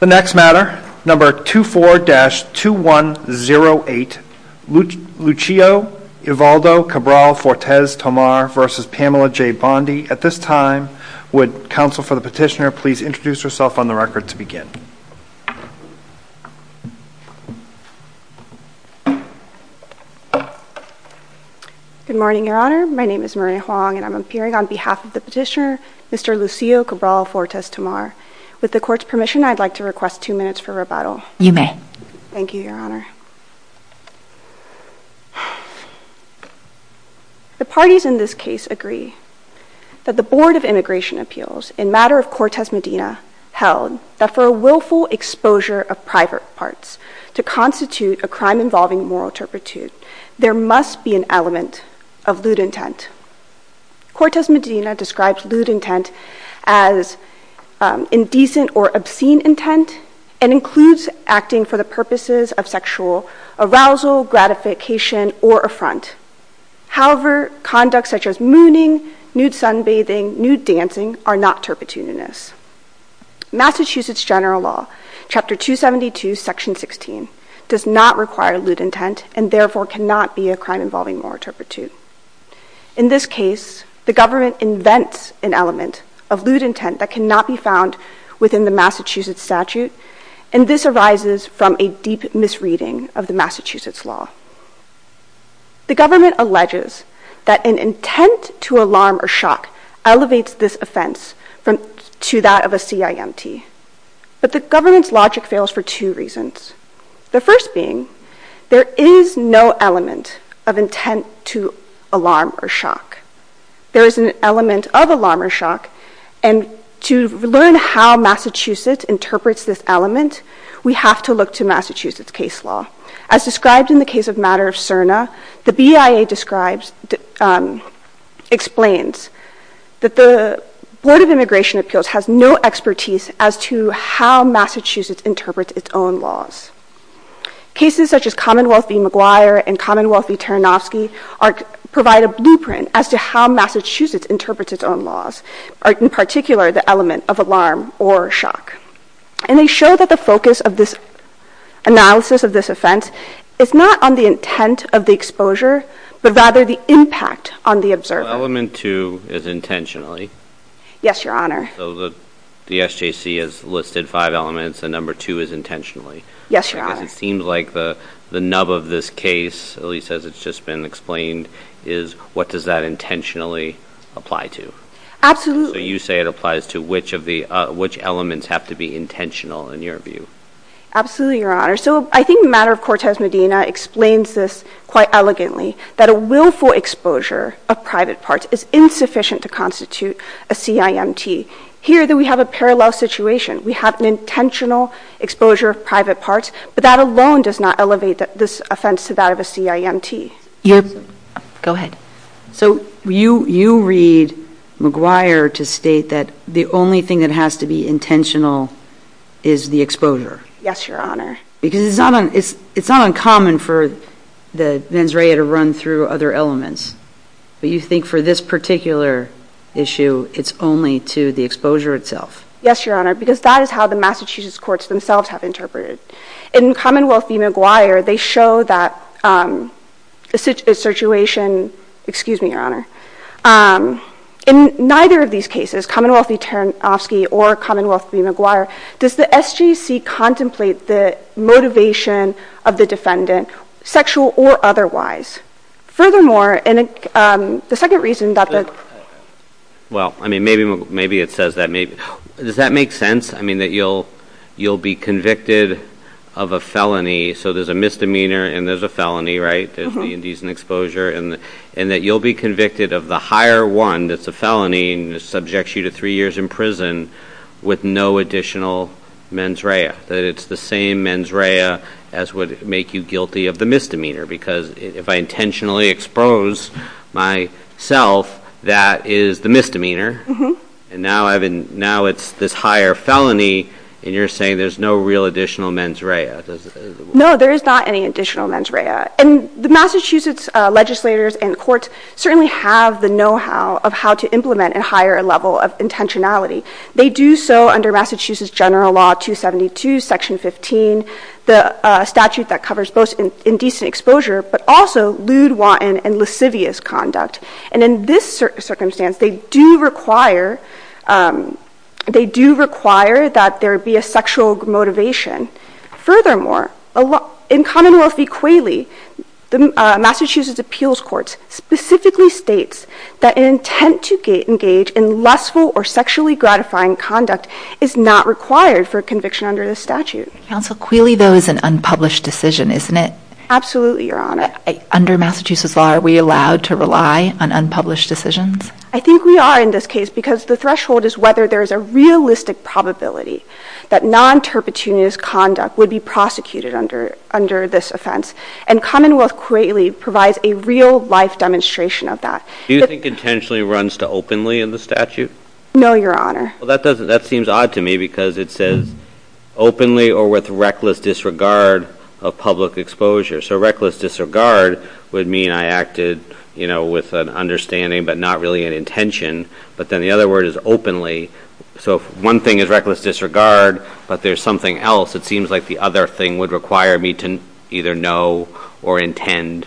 The next matter, number 24-2108, Lucio Evaldo Cabral Fortes Tomar v. Pamela J. Bondi. At this time, would counsel for the petitioner please introduce herself on the record to begin. Good morning, Your Honor. My name is Maria Huang and I'm appearing on behalf of the petitioner, Mr. Lucio Cabral Fortes Tomar. With the Court's permission, I'd like to request two minutes for rebuttal. You may. Thank you, Your Honor. The parties in this case agree that the Board of Immigration Appeals, in matter of Cortez Medina, held that for a willful exposure of private parts to constitute a crime involving moral turpitude, there must be an element of lewd intent. Cortez Medina describes lewd intent as indecent or obscene intent and includes acting for the purposes of sexual arousal, gratification, or affront. However, conduct such as mooning, nude sunbathing, nude dancing are not turpitudinous. Massachusetts General Law, Chapter 272, Section 16, does not require lewd intent and therefore cannot be a crime involving moral turpitude. In this case, the government invents an element of lewd intent that cannot be found within the Massachusetts statute and this arises from a deep misreading of the Massachusetts law. The government alleges that an intent to alarm or shock elevates this offense to that of a CIMT. But the government's logic fails for two reasons. The first being, there is no element of intent to alarm or shock. There is an element of alarm or shock and to learn how Massachusetts interprets this element, we have to look to Massachusetts case law. As described in the case of Matter of Cerna, the BIA explains that the Board of Immigration Appeals has no expertise as to how Massachusetts interprets its own laws. Cases such as Commonwealth v. McGuire and Commonwealth v. Taranofsky provide a blueprint as to how Massachusetts interprets its own laws, in particular the element of alarm or shock. And they show that the focus of this analysis of this offense is not on the intent of the exposure, but rather the impact on the observer. So element two is intentionally? Yes, Your Honor. So the SJC has listed five elements and number two is intentionally? Yes, Your Honor. Because it seems like the nub of this case, at least as it's just been explained, is what does that intentionally apply to? Absolutely. So you say it applies to which elements have to be intentional in your view? Absolutely, Your Honor. So I think Matter of Cortez Medina explains this quite elegantly, that a willful exposure of private parts is insufficient to constitute a CIMT. Here we have a parallel situation. We have an intentional exposure of private parts, but that alone does not elevate this offense to that of a CIMT. Go ahead. So you read McGuire to state that the only thing that has to be intentional is the exposure? Yes, Your Honor. Because it's not uncommon for the mens rea to run through other elements, but you think for this particular issue it's only to the exposure itself? Yes, Your Honor, because that is how the Massachusetts courts themselves have interpreted it. In Commonwealth v. McGuire, they show that the situation, excuse me, Your Honor, in neither of these cases, Commonwealth v. Taranofsky or Commonwealth v. McGuire, does the SJC contemplate the motivation of the defendant, sexual or otherwise? Furthermore, the second reason that the- Well, I mean, maybe it says that maybe. Does that make sense? I mean that you'll be convicted of a felony, so there's a misdemeanor and there's a felony, right? There's the indecent exposure, and that you'll be convicted of the higher one that's a felony and subjects you to three years in prison with no additional mens rea, that it's the same mens rea as would make you guilty of the misdemeanor, because if I intentionally expose myself, that is the misdemeanor, and now it's this higher felony, and you're saying there's no real additional mens rea. No, there is not any additional mens rea. And the Massachusetts legislators and courts certainly have the know-how of how to implement a higher level of intentionality. They do so under Massachusetts General Law 272, Section 15, the statute that covers both indecent exposure but also lewd, wanton, and lascivious conduct. And in this circumstance, they do require that there be a sexual motivation. Furthermore, in Commonwealth v. Qualey, Massachusetts appeals courts specifically states that an intent to engage in lustful or sexually gratifying conduct is not required for conviction under this statute. Counsel, Qualey though is an unpublished decision, isn't it? Absolutely, Your Honor. Under Massachusetts law, are we allowed to rely on unpublished decisions? I think we are in this case because the threshold is whether there is a realistic probability that non-terpetuous conduct would be prosecuted under this offense, and Commonwealth v. Qualey provides a real-life demonstration of that. Do you think intentionally runs to openly in the statute? No, Your Honor. Well, that seems odd to me because it says openly or with reckless disregard of public exposure. So reckless disregard would mean I acted with an understanding but not really an intention, but then the other word is openly. So if one thing is reckless disregard but there's something else, it seems like the other thing would require me to either know or intend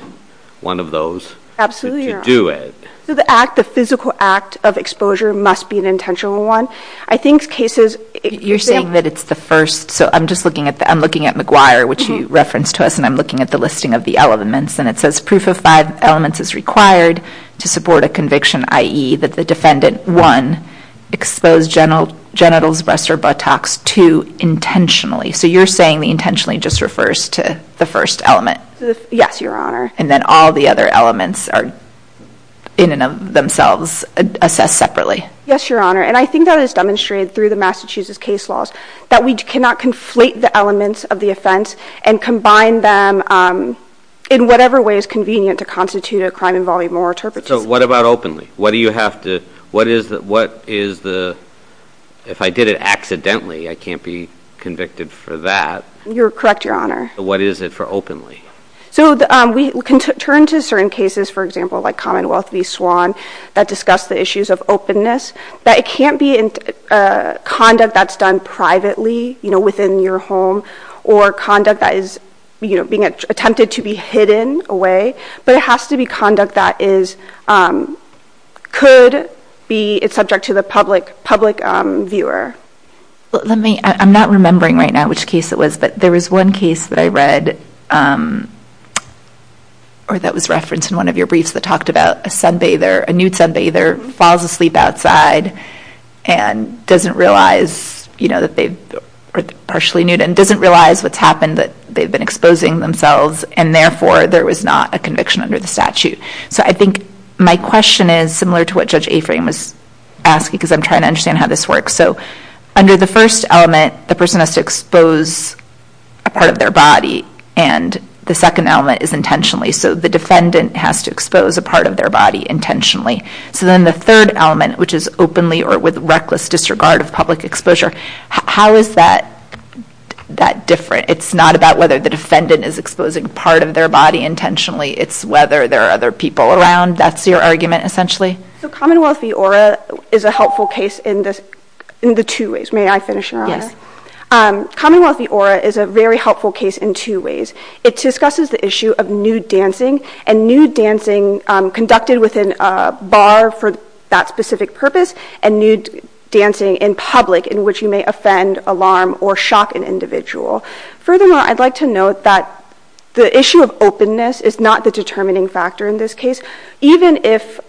one of those to do it. So the physical act of exposure must be an intentional one. I think cases— You're saying that it's the first. So I'm just looking at—I'm looking at McGuire, which you referenced to us, and I'm looking at the listing of the elements, and it says proof of five elements is required to support a conviction, i.e. that the defendant, one, exposed genitals, breasts, or buttocks, two, intentionally. So you're saying the intentionally just refers to the first element. Yes, Your Honor. And then all the other elements are in and of themselves assessed separately. Yes, Your Honor. And I think that is demonstrated through the Massachusetts case laws that we cannot conflate the elements of the offense and combine them in whatever way is convenient to constitute a crime involving moral interpretation. So what about openly? What do you have to—what is the—if I did it accidentally, I can't be convicted for that. You're correct, Your Honor. What is it for openly? So we can turn to certain cases, for example, like Commonwealth v. Swan, that discuss the issues of openness, that it can't be conduct that's done privately, you know, within your home, or conduct that is, you know, being attempted to be hidden away, but it has to be conduct that is—could be subject to the public viewer. Let me—I'm not remembering right now which case it was, but there was one case that I read, or that was referenced in one of your briefs, that talked about a sunbather, a nude sunbather, falls asleep outside and doesn't realize, you know, that they're partially nude and doesn't realize what's happened, that they've been exposing themselves, and therefore there was not a conviction under the statute. So I think my question is similar to what Judge Aframe was asking because I'm trying to understand how this works. So under the first element, the person has to expose a part of their body, and the second element is intentionally. So the defendant has to expose a part of their body intentionally. So then the third element, which is openly or with reckless disregard of public exposure, how is that different? It's not about whether the defendant is exposing part of their body intentionally, it's whether there are other people around. That's your argument, essentially? So Commonwealth v. ORA is a helpful case in the two ways. May I finish, Your Honor? Yes. Commonwealth v. ORA is a very helpful case in two ways. It discusses the issue of nude dancing, and nude dancing conducted within a bar for that specific purpose and nude dancing in public in which you may offend, alarm, or shock an individual. Furthermore, I'd like to note that the issue of openness is not the determining factor in this case. Even if,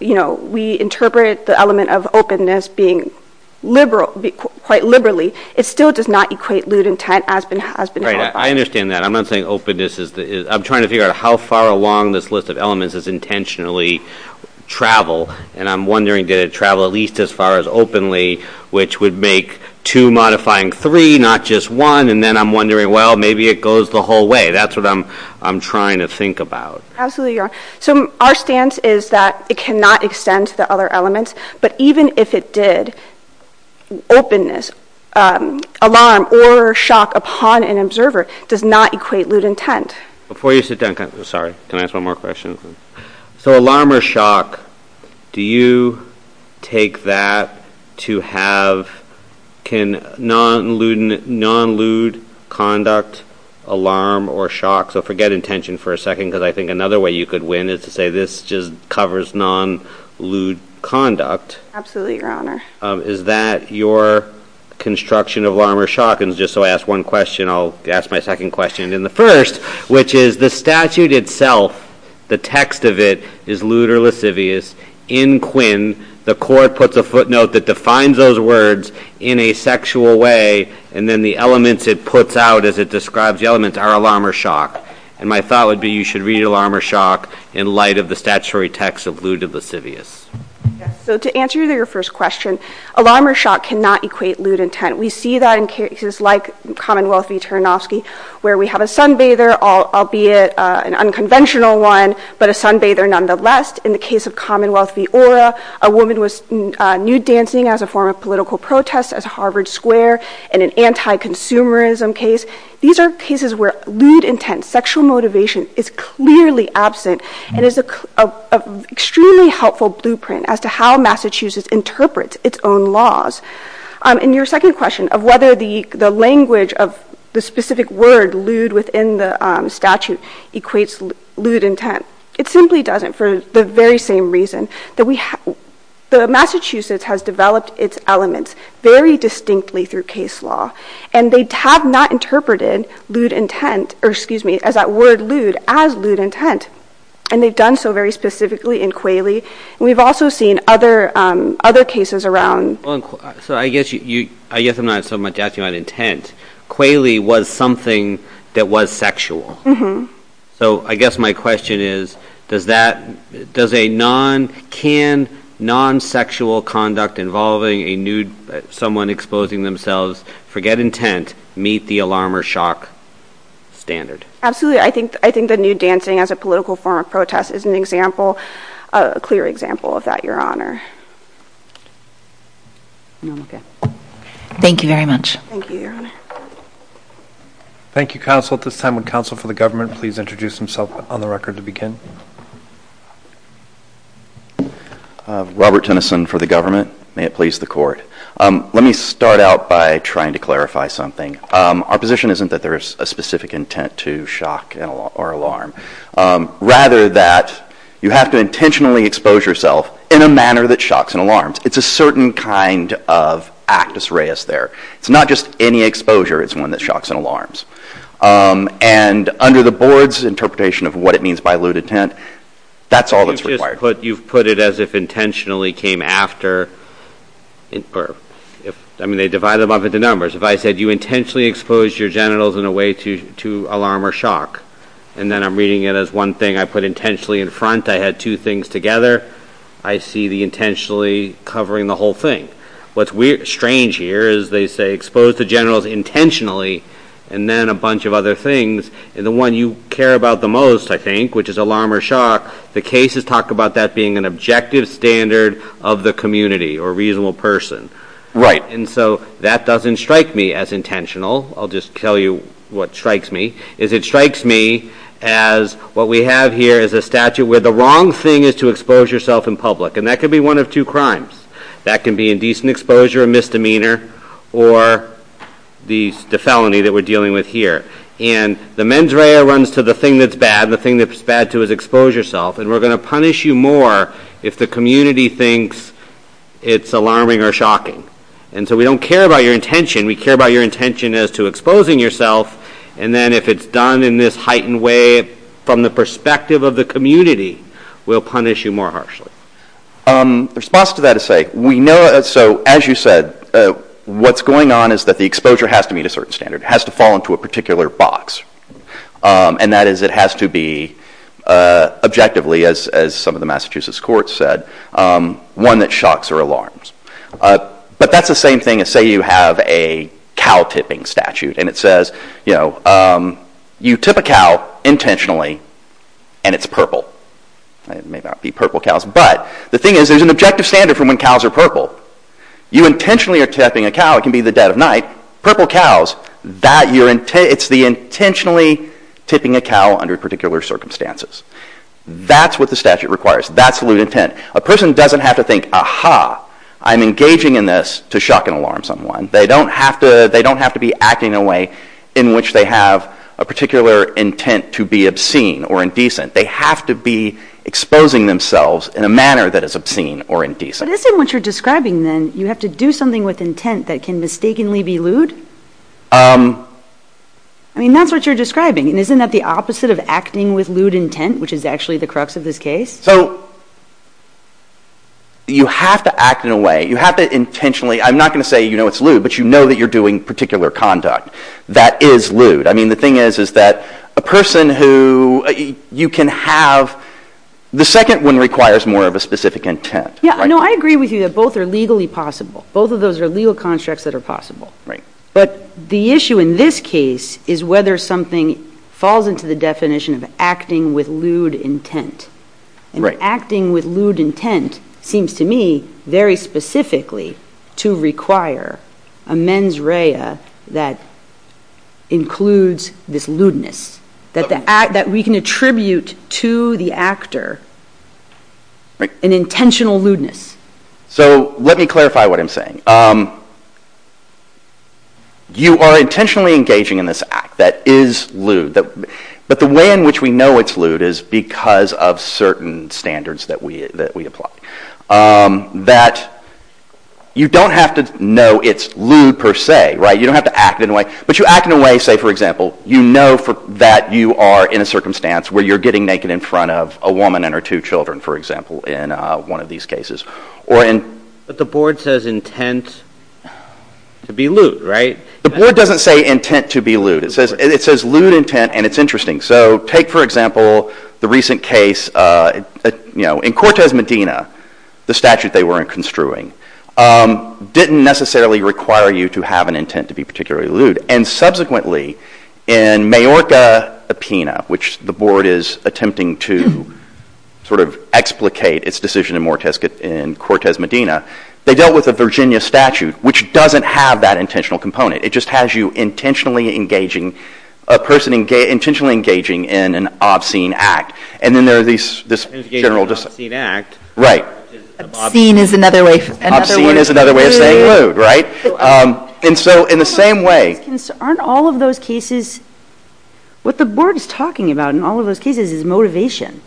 you know, we interpret the element of openness being quite liberally, it still does not equate lewd intent as being qualified. I understand that. I'm not saying openness is... I'm trying to figure out how far along this list of elements is intentionally travel, and I'm wondering did it travel at least as far as openly, which would make two modifying three, not just one, and then I'm wondering, well, maybe it goes the whole way. That's what I'm trying to think about. Absolutely, Your Honor. So our stance is that it cannot extend to the other elements, but even if it did, openness, alarm, or shock upon an observer does not equate lewd intent. Before you sit down... Sorry, can I ask one more question? So alarm or shock, do you take that to have, can non-lewd conduct, alarm or shock, so forget intention for a second because I think another way you could win is to say this just covers non-lewd conduct. Absolutely, Your Honor. Is that your construction of alarm or shock? And just so I ask one question, I'll ask my second question in the first, which is the statute itself, the text of it, is lewd or lascivious. In Quinn, the court puts a footnote that defines those words in a sexual way, and then the elements it puts out as it describes the elements are alarm or shock. And my thought would be you should read alarm or shock in light of the statutory text of lewd or lascivious. So to answer your first question, alarm or shock cannot equate lewd intent. We see that in cases like Commonwealth v. Ternofsky where we have a sunbather, albeit an unconventional one, but a sunbather nonetheless. In the case of Commonwealth v. Ora, a woman was nude dancing as a form of political protest at Harvard Square. In an anti-consumerism case, these are cases where lewd intent, sexual motivation, is clearly absent and is an extremely helpful blueprint as to how Massachusetts interprets its own laws. And your second question of whether the language of the specific word lewd within the statute equates lewd intent, it simply doesn't for the very same reason. Massachusetts has developed its elements very distinctly through case law, and they have not interpreted lewd intent, or excuse me, as that word lewd as lewd intent. And they've done so very specifically in Qualey. And we've also seen other cases around... So I guess I'm not so much asking about intent. Qualey was something that was sexual. So I guess my question is does a non-can, non-sexual conduct involving a nude someone exposing themselves, forget intent, meet the alarm or shock standard? Absolutely. I think the nude dancing as a political form of protest is an example, a clear example of that, Your Honor. Thank you very much. Thank you, Your Honor. Thank you, counsel. At this time, would counsel for the government please introduce himself on the record to begin? Robert Tennyson for the government. May it please the Court. Let me start out by trying to clarify something. Our position isn't that there is a specific intent to shock or alarm, rather that you have to intentionally expose yourself in a manner that shocks and alarms. It's a certain kind of actus reus there. It's not just any exposure. It's one that shocks and alarms. And under the board's interpretation of what it means by lewd intent, that's all that's required. You've put it as if intentionally came after. I mean, they divide them up into numbers. If I said you intentionally exposed your genitals in a way to alarm or shock, and then I'm reading it as one thing I put intentionally in front, I had two things together, I see the intentionally covering the whole thing. What's strange here is they say expose the genitals intentionally and then a bunch of other things. And the one you care about the most, I think, which is alarm or shock, the cases talk about that being an objective standard of the community or reasonable person. Right. And so that doesn't strike me as intentional. I'll just tell you what strikes me. It strikes me as what we have here is a statute where the wrong thing is to expose yourself in public, and that could be one of two crimes. That can be indecent exposure, a misdemeanor, or the felony that we're dealing with here. And the mens rea runs to the thing that's bad, and the thing that it's bad to is expose yourself, and we're going to punish you more if the community thinks it's alarming or shocking. And so we don't care about your intention. We care about your intention as to exposing yourself, and then if it's done in this heightened way from the perspective of the community, we'll punish you more harshly. The response to that is say, we know, so as you said, what's going on is that the exposure has to meet a certain standard. It has to fall into a particular box, and that is it has to be objectively, as some of the Massachusetts courts said, one that shocks or alarms. But that's the same thing as say you have a cow tipping statute, and it says, you know, you tip a cow intentionally, and it's purple. It may not be purple cows, but the thing is, there's an objective standard for when cows are purple. You intentionally are tipping a cow. It can be the dead of night. Purple cows, it's the intentionally tipping a cow under particular circumstances. That's what the statute requires. That's the lewd intent. A person doesn't have to think, aha, I'm engaging in this to shock and alarm someone. They don't have to be acting in a way in which they have a particular intent to be obscene or indecent. They have to be exposing themselves in a manner that is obscene or indecent. But isn't what you're describing, then, you have to do something with intent that can mistakenly be lewd? I mean, that's what you're describing, and isn't that the opposite of acting with lewd intent, which is actually the crux of this case? So you have to act in a way. You have to intentionally. I'm not going to say, you know, it's lewd, but you know that you're doing particular conduct. That is lewd. I mean, the thing is, is that a person who you can have, the second one requires more of a specific intent. Yeah, no, I agree with you that both are legally possible. Both of those are legal constructs that are possible. Right. But the issue in this case is whether something falls into the definition of acting with lewd intent. And acting with lewd intent seems to me very specifically to require a mens rea that includes this lewdness, that we can attribute to the actor an intentional lewdness. So let me clarify what I'm saying. You are intentionally engaging in this act that is lewd, but the way in which we know it's lewd is because of certain standards that we apply. That you don't have to know it's lewd per se, right? You don't have to act in a way. But you act in a way, say, for example, you know that you are in a circumstance where you're getting naked in front of a woman and her two children, for example, in one of these cases. But the board says intent to be lewd, right? The board doesn't say intent to be lewd. It says lewd intent, and it's interesting. So take, for example, the recent case, you know, in Cortez Medina, the statute they weren't construing didn't necessarily require you to have an intent to be particularly lewd. And subsequently, in Majorca Epina, which the board is attempting to sort of explicate its decision in Cortez Medina, they dealt with a Virginia statute, which doesn't have that intentional component. It just has you intentionally engaging a person, intentionally engaging in an obscene act. And then there are these general... Engaging in an obscene act. Right. Obscene is another way... Obscene is another way of saying lewd, right? And so in the same way... Aren't all of those cases... What the board is talking about in all of those cases is motivation.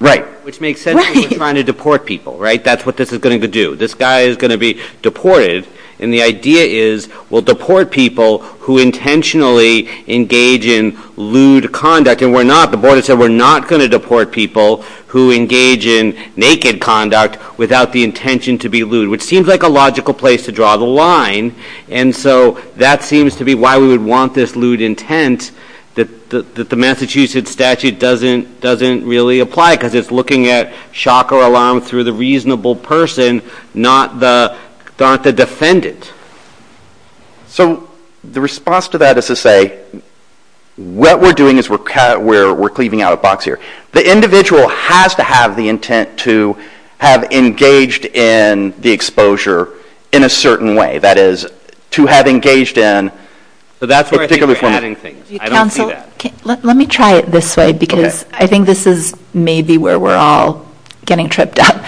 Right. Which makes sense if you're trying to deport people, right? That's what this is going to do. This guy is going to be deported, and the idea is we'll deport people who intentionally engage in lewd conduct. And we're not... The board has said we're not going to deport people who engage in naked conduct without the intention to be lewd, which seems like a logical place to draw the line. And so that seems to be why we would want this lewd intent that the Massachusetts statute doesn't really apply because it's looking at shock or alarm through the reasonable person, not the defendant. So the response to that is to say what we're doing is we're cleaving out a box here. The individual has to have the intent to have engaged in the exposure in a certain way. That is, to have engaged in... That's where I think we're adding things. I don't see that. Counsel, let me try it this way because I think this is maybe where we're all getting tripped up.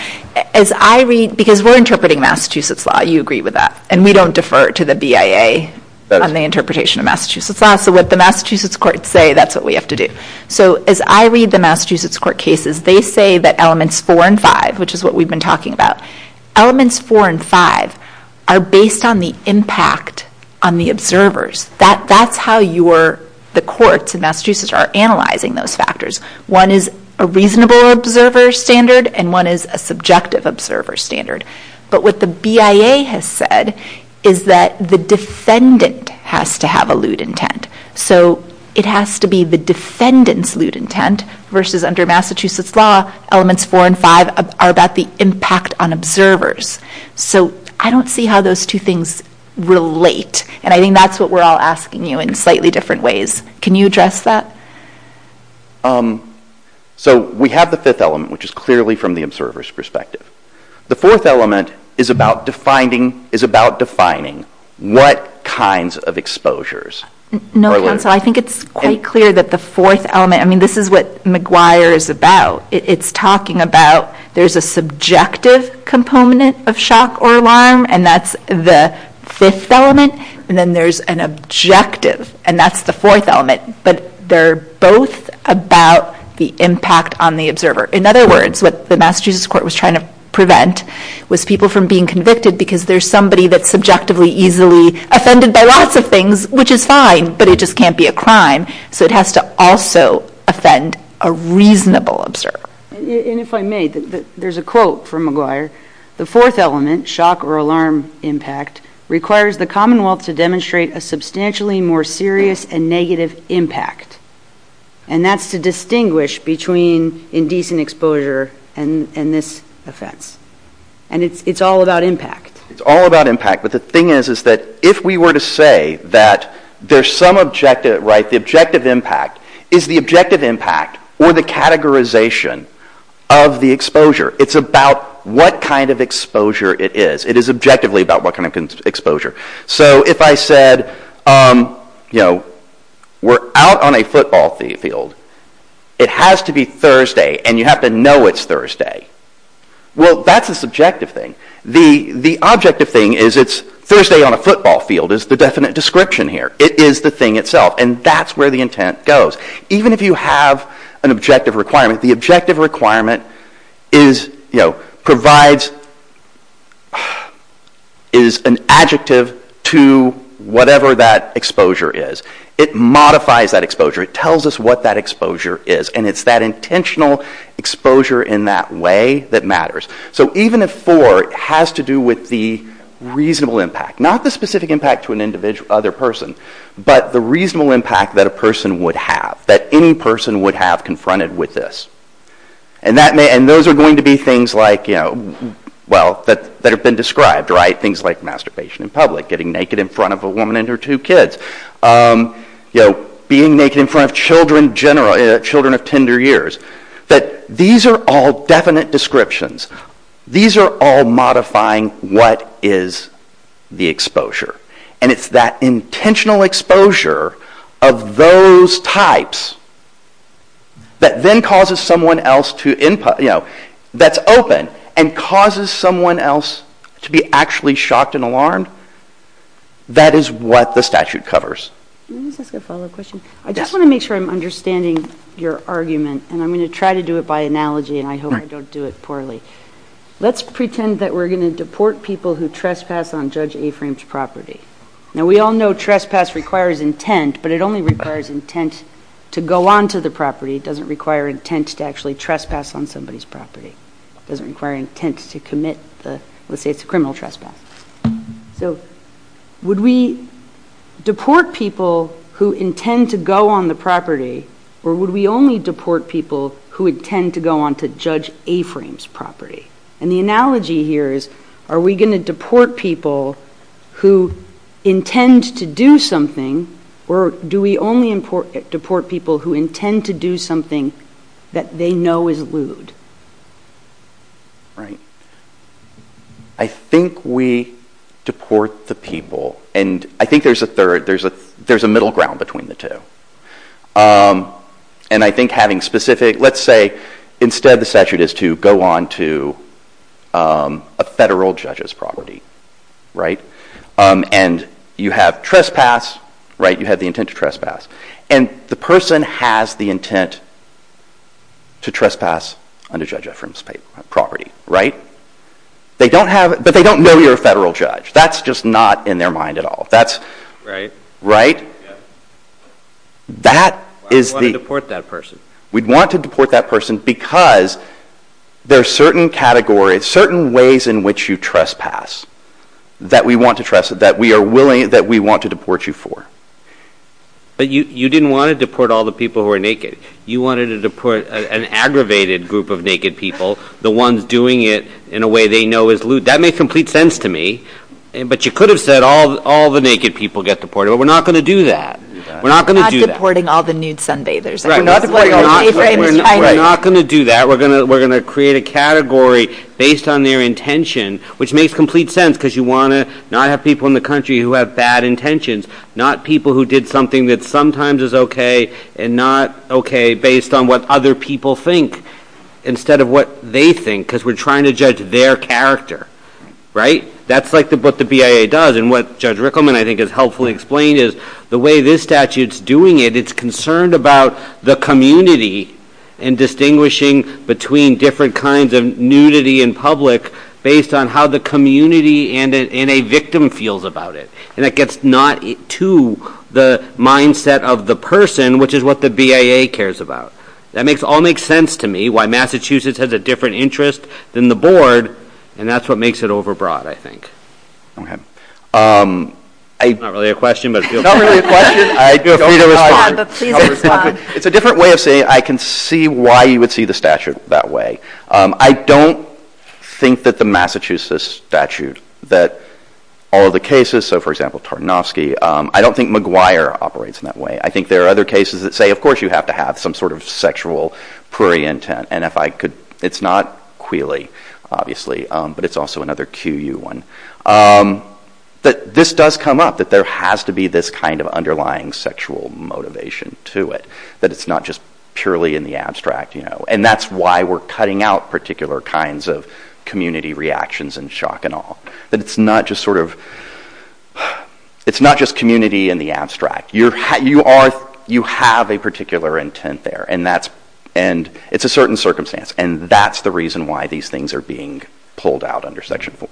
As I read... Because we're interpreting Massachusetts law. You agree with that. And we don't defer to the BIA on the interpretation of Massachusetts law. So what the Massachusetts courts say, that's what we have to do. So as I read the Massachusetts court cases, they say that Elements 4 and 5, which is what we've been talking about, Elements 4 and 5 are based on the impact on the observers. That's how the courts in Massachusetts are analyzing those factors. One is a reasonable observer standard, and one is a subjective observer standard. But what the BIA has said is that the defendant has to have a lewd intent. So it has to be the defendant's lewd intent versus under Massachusetts law, Elements 4 and 5 are about the impact on observers. So I don't see how those two things relate. And I think that's what we're all asking you in slightly different ways. Can you address that? So we have the fifth element, which is clearly from the observer's perspective. The fourth element is about defining what kinds of exposures are lewd. No, counsel, I think it's quite clear that the fourth element, I mean, this is what McGuire is about. It's talking about there's a subjective component of shock or alarm, and that's the fifth element. And then there's an objective, and that's the fourth element. But they're both about the impact on the observer. In other words, what the Massachusetts court was trying to prevent was people from being convicted because there's somebody that's subjectively easily offended by lots of things, which is fine, but it just can't be a crime. So it has to also offend a reasonable observer. And if I may, there's a quote from McGuire. The fourth element, shock or alarm impact, requires the Commonwealth to demonstrate a substantially more serious and negative impact. And that's to distinguish between indecent exposure and this offense. And it's all about impact. It's all about impact, but the thing is, is that if we were to say that there's some objective, right, the objective impact is the objective impact or the categorization of the exposure. It's about what kind of exposure it is. It is objectively about what kind of exposure. So if I said, you know, we're out on a football field. It has to be Thursday, and you have to know it's Thursday. Well, that's a subjective thing. The objective thing is it's Thursday on a football field is the definite description here. It is the thing itself, and that's where the intent goes. Even if you have an objective requirement, the objective requirement is, you know, provides, is an adjective to whatever that exposure is. It modifies that exposure. It tells us what that exposure is, and it's that intentional exposure in that way that matters. So even if four has to do with the reasonable impact, not the specific impact to another person, but the reasonable impact that a person would have, that any person would have confronted with this. And those are going to be things like, you know, well, that have been described, right? Things like masturbation in public, getting naked in front of a woman and her two kids. You know, being naked in front of children of tender years. These are all definite descriptions. These are all modifying what is the exposure. And it's that intentional exposure of those types that then causes someone else to, you know, that's open and causes someone else to be actually shocked and alarmed. That is what the statute covers. Let me just ask a follow-up question. I just want to make sure I'm understanding your argument, and I'm going to try to do it by analogy, and I hope I don't do it poorly. Let's pretend that we're going to deport people who trespass on Judge Aframe's property. Now, we all know trespass requires intent, but it only requires intent to go onto the property. It doesn't require intent to actually trespass on somebody's property. It doesn't require intent to commit the... Let's say it's a criminal trespass. So would we deport people who intend to go on the property, or would we only deport people who intend to go onto Judge Aframe's property? And the analogy here is, are we going to deport people who intend to do something, or do we only deport people who intend to do something that they know is lewd? Right. I think we deport the people, and I think there's a third... There's a middle ground between the two. And I think having specific... Let's say instead the statute is to go onto a federal judge's property, right? And you have trespass, right? You have the intent to trespass. And the person has the intent to trespass on Judge Aframe's property, right? They don't have... But they don't know you're a federal judge. That's just not in their mind at all. Right. Right? That is the... Why would we deport that person? We'd want to deport that person because there are certain categories, certain ways in which you trespass that we want to trust, that we are willing... that we want to deport you for. But you didn't want to deport all the people who are naked. You wanted to deport an aggravated group of naked people, the ones doing it in a way they know is lewd. That makes complete sense to me. But you could have said, all the naked people get deported, but we're not going to do that. We're not going to do that. We're not deporting all the nude sunbathers. We're not going to do that. We're going to create a category based on their intention, which makes complete sense because you want to not have people in the country who have bad intentions, not people who did something that sometimes is okay and not okay based on what other people think instead of what they think because we're trying to judge their character. Right? That's like what the BIA does. And what Judge Rickleman, I think, has helpfully explained is the way this statute's doing it, it's concerned about the community and distinguishing between different kinds of nudity in public based on how the community and a victim feels about it. And that gets not to the mindset of the person, which is what the BIA cares about. That all makes sense to me, why Massachusetts has a different interest than the board, and that's what makes it overbroad, I think. Okay. Not really a question, but feel free to respond. It's a different way of saying I can see why you would see the statute that way. I don't think that the Massachusetts statute, that all the cases, so, for example, Tarnovsky, I don't think McGuire operates in that way. I think there are other cases that say, of course, you have to have some sort of sexual, prairie intent, and if I could... It's not Quealy, obviously, but it's also another QU one. But this does come up, that there has to be this kind of underlying sexual motivation to it, that it's not just purely in the abstract, you know, and that's why we're cutting out particular kinds of community reactions and shock and awe, that it's not just sort of... It's not just community in the abstract. You have a particular intent there, and it's a certain circumstance, and that's the reason why these things are being pulled out under Section 4.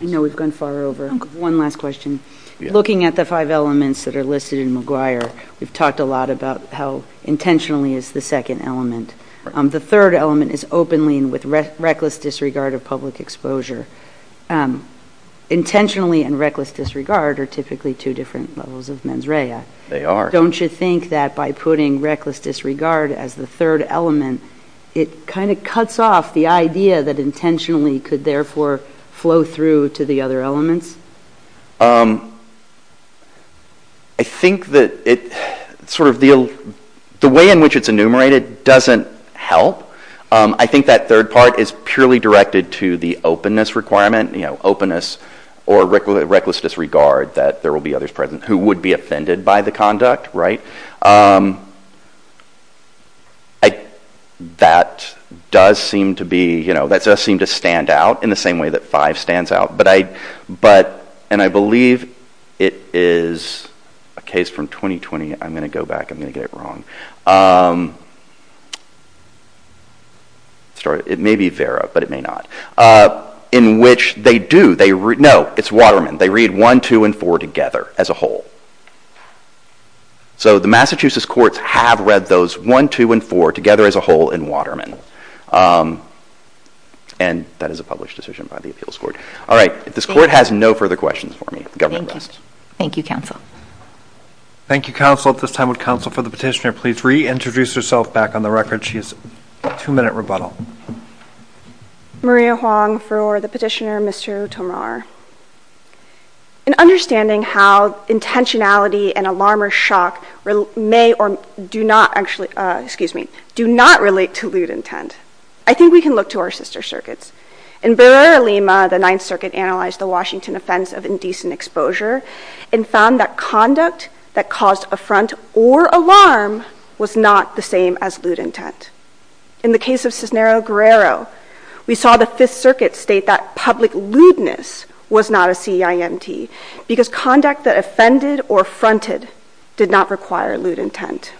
I know we've gone far over. One last question. Looking at the five elements that are listed in McGuire, we've talked a lot about how intentionally is the second element. The third element is openly and with reckless disregard of public exposure. Intentionally and reckless disregard are typically two different levels of mens rea. They are. Don't you think that by putting reckless disregard as the third element, it kind of cuts off the idea that intentionally could therefore flow through to the other elements? I think that it sort of... The way in which it's enumerated doesn't help. I think that third part is purely directed to the openness requirement, you know, openness or reckless disregard that there will be others present who would be offended by the conduct, right? That does seem to be... That does seem to stand out in the same way that 5 stands out. But I... And I believe it is a case from 2020. I'm going to go back. I'm going to get it wrong. It may be Vera, but it may not. In which they do... No, it's Waterman. They read 1, 2, and 4 together as a whole. So the Massachusetts courts have read those 1, 2, and 4 together as a whole in Waterman. And that is a published decision by the appeals court. All right. If this court has no further questions for me, the government rests. Thank you, counsel. Thank you, counsel. At this time, would counsel for the petitioner please reintroduce herself back on the record? She has a two-minute rebuttal. Maria Huang for the petitioner, Mr. Tomar. In understanding how intentionality and alarm or shock may or do not actually... Excuse me. Do not relate to lewd intent, I think we can look to our sister circuits. In Barrera-Lima, the Ninth Circuit analyzed the Washington offense of indecent exposure and found that conduct that caused affront or alarm was not the same as lewd intent. In the case of Cisnero-Guerrero, we saw the Fifth Circuit state that public lewdness was not a CIMT because conduct that offended or fronted did not require lewd intent.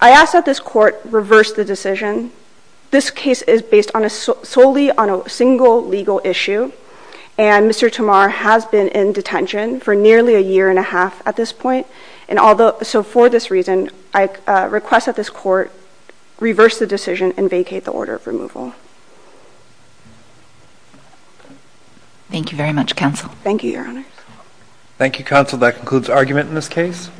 I ask that this court reverse the decision. This case is based solely on a single legal issue and Mr. Tomar has been in detention for nearly a year and a half at this point. So for this reason, I request that this court reverse the decision and vacate the order of removal. Thank you very much, counsel. Thank you, Your Honor. Thank you, counsel. That concludes argument in this case.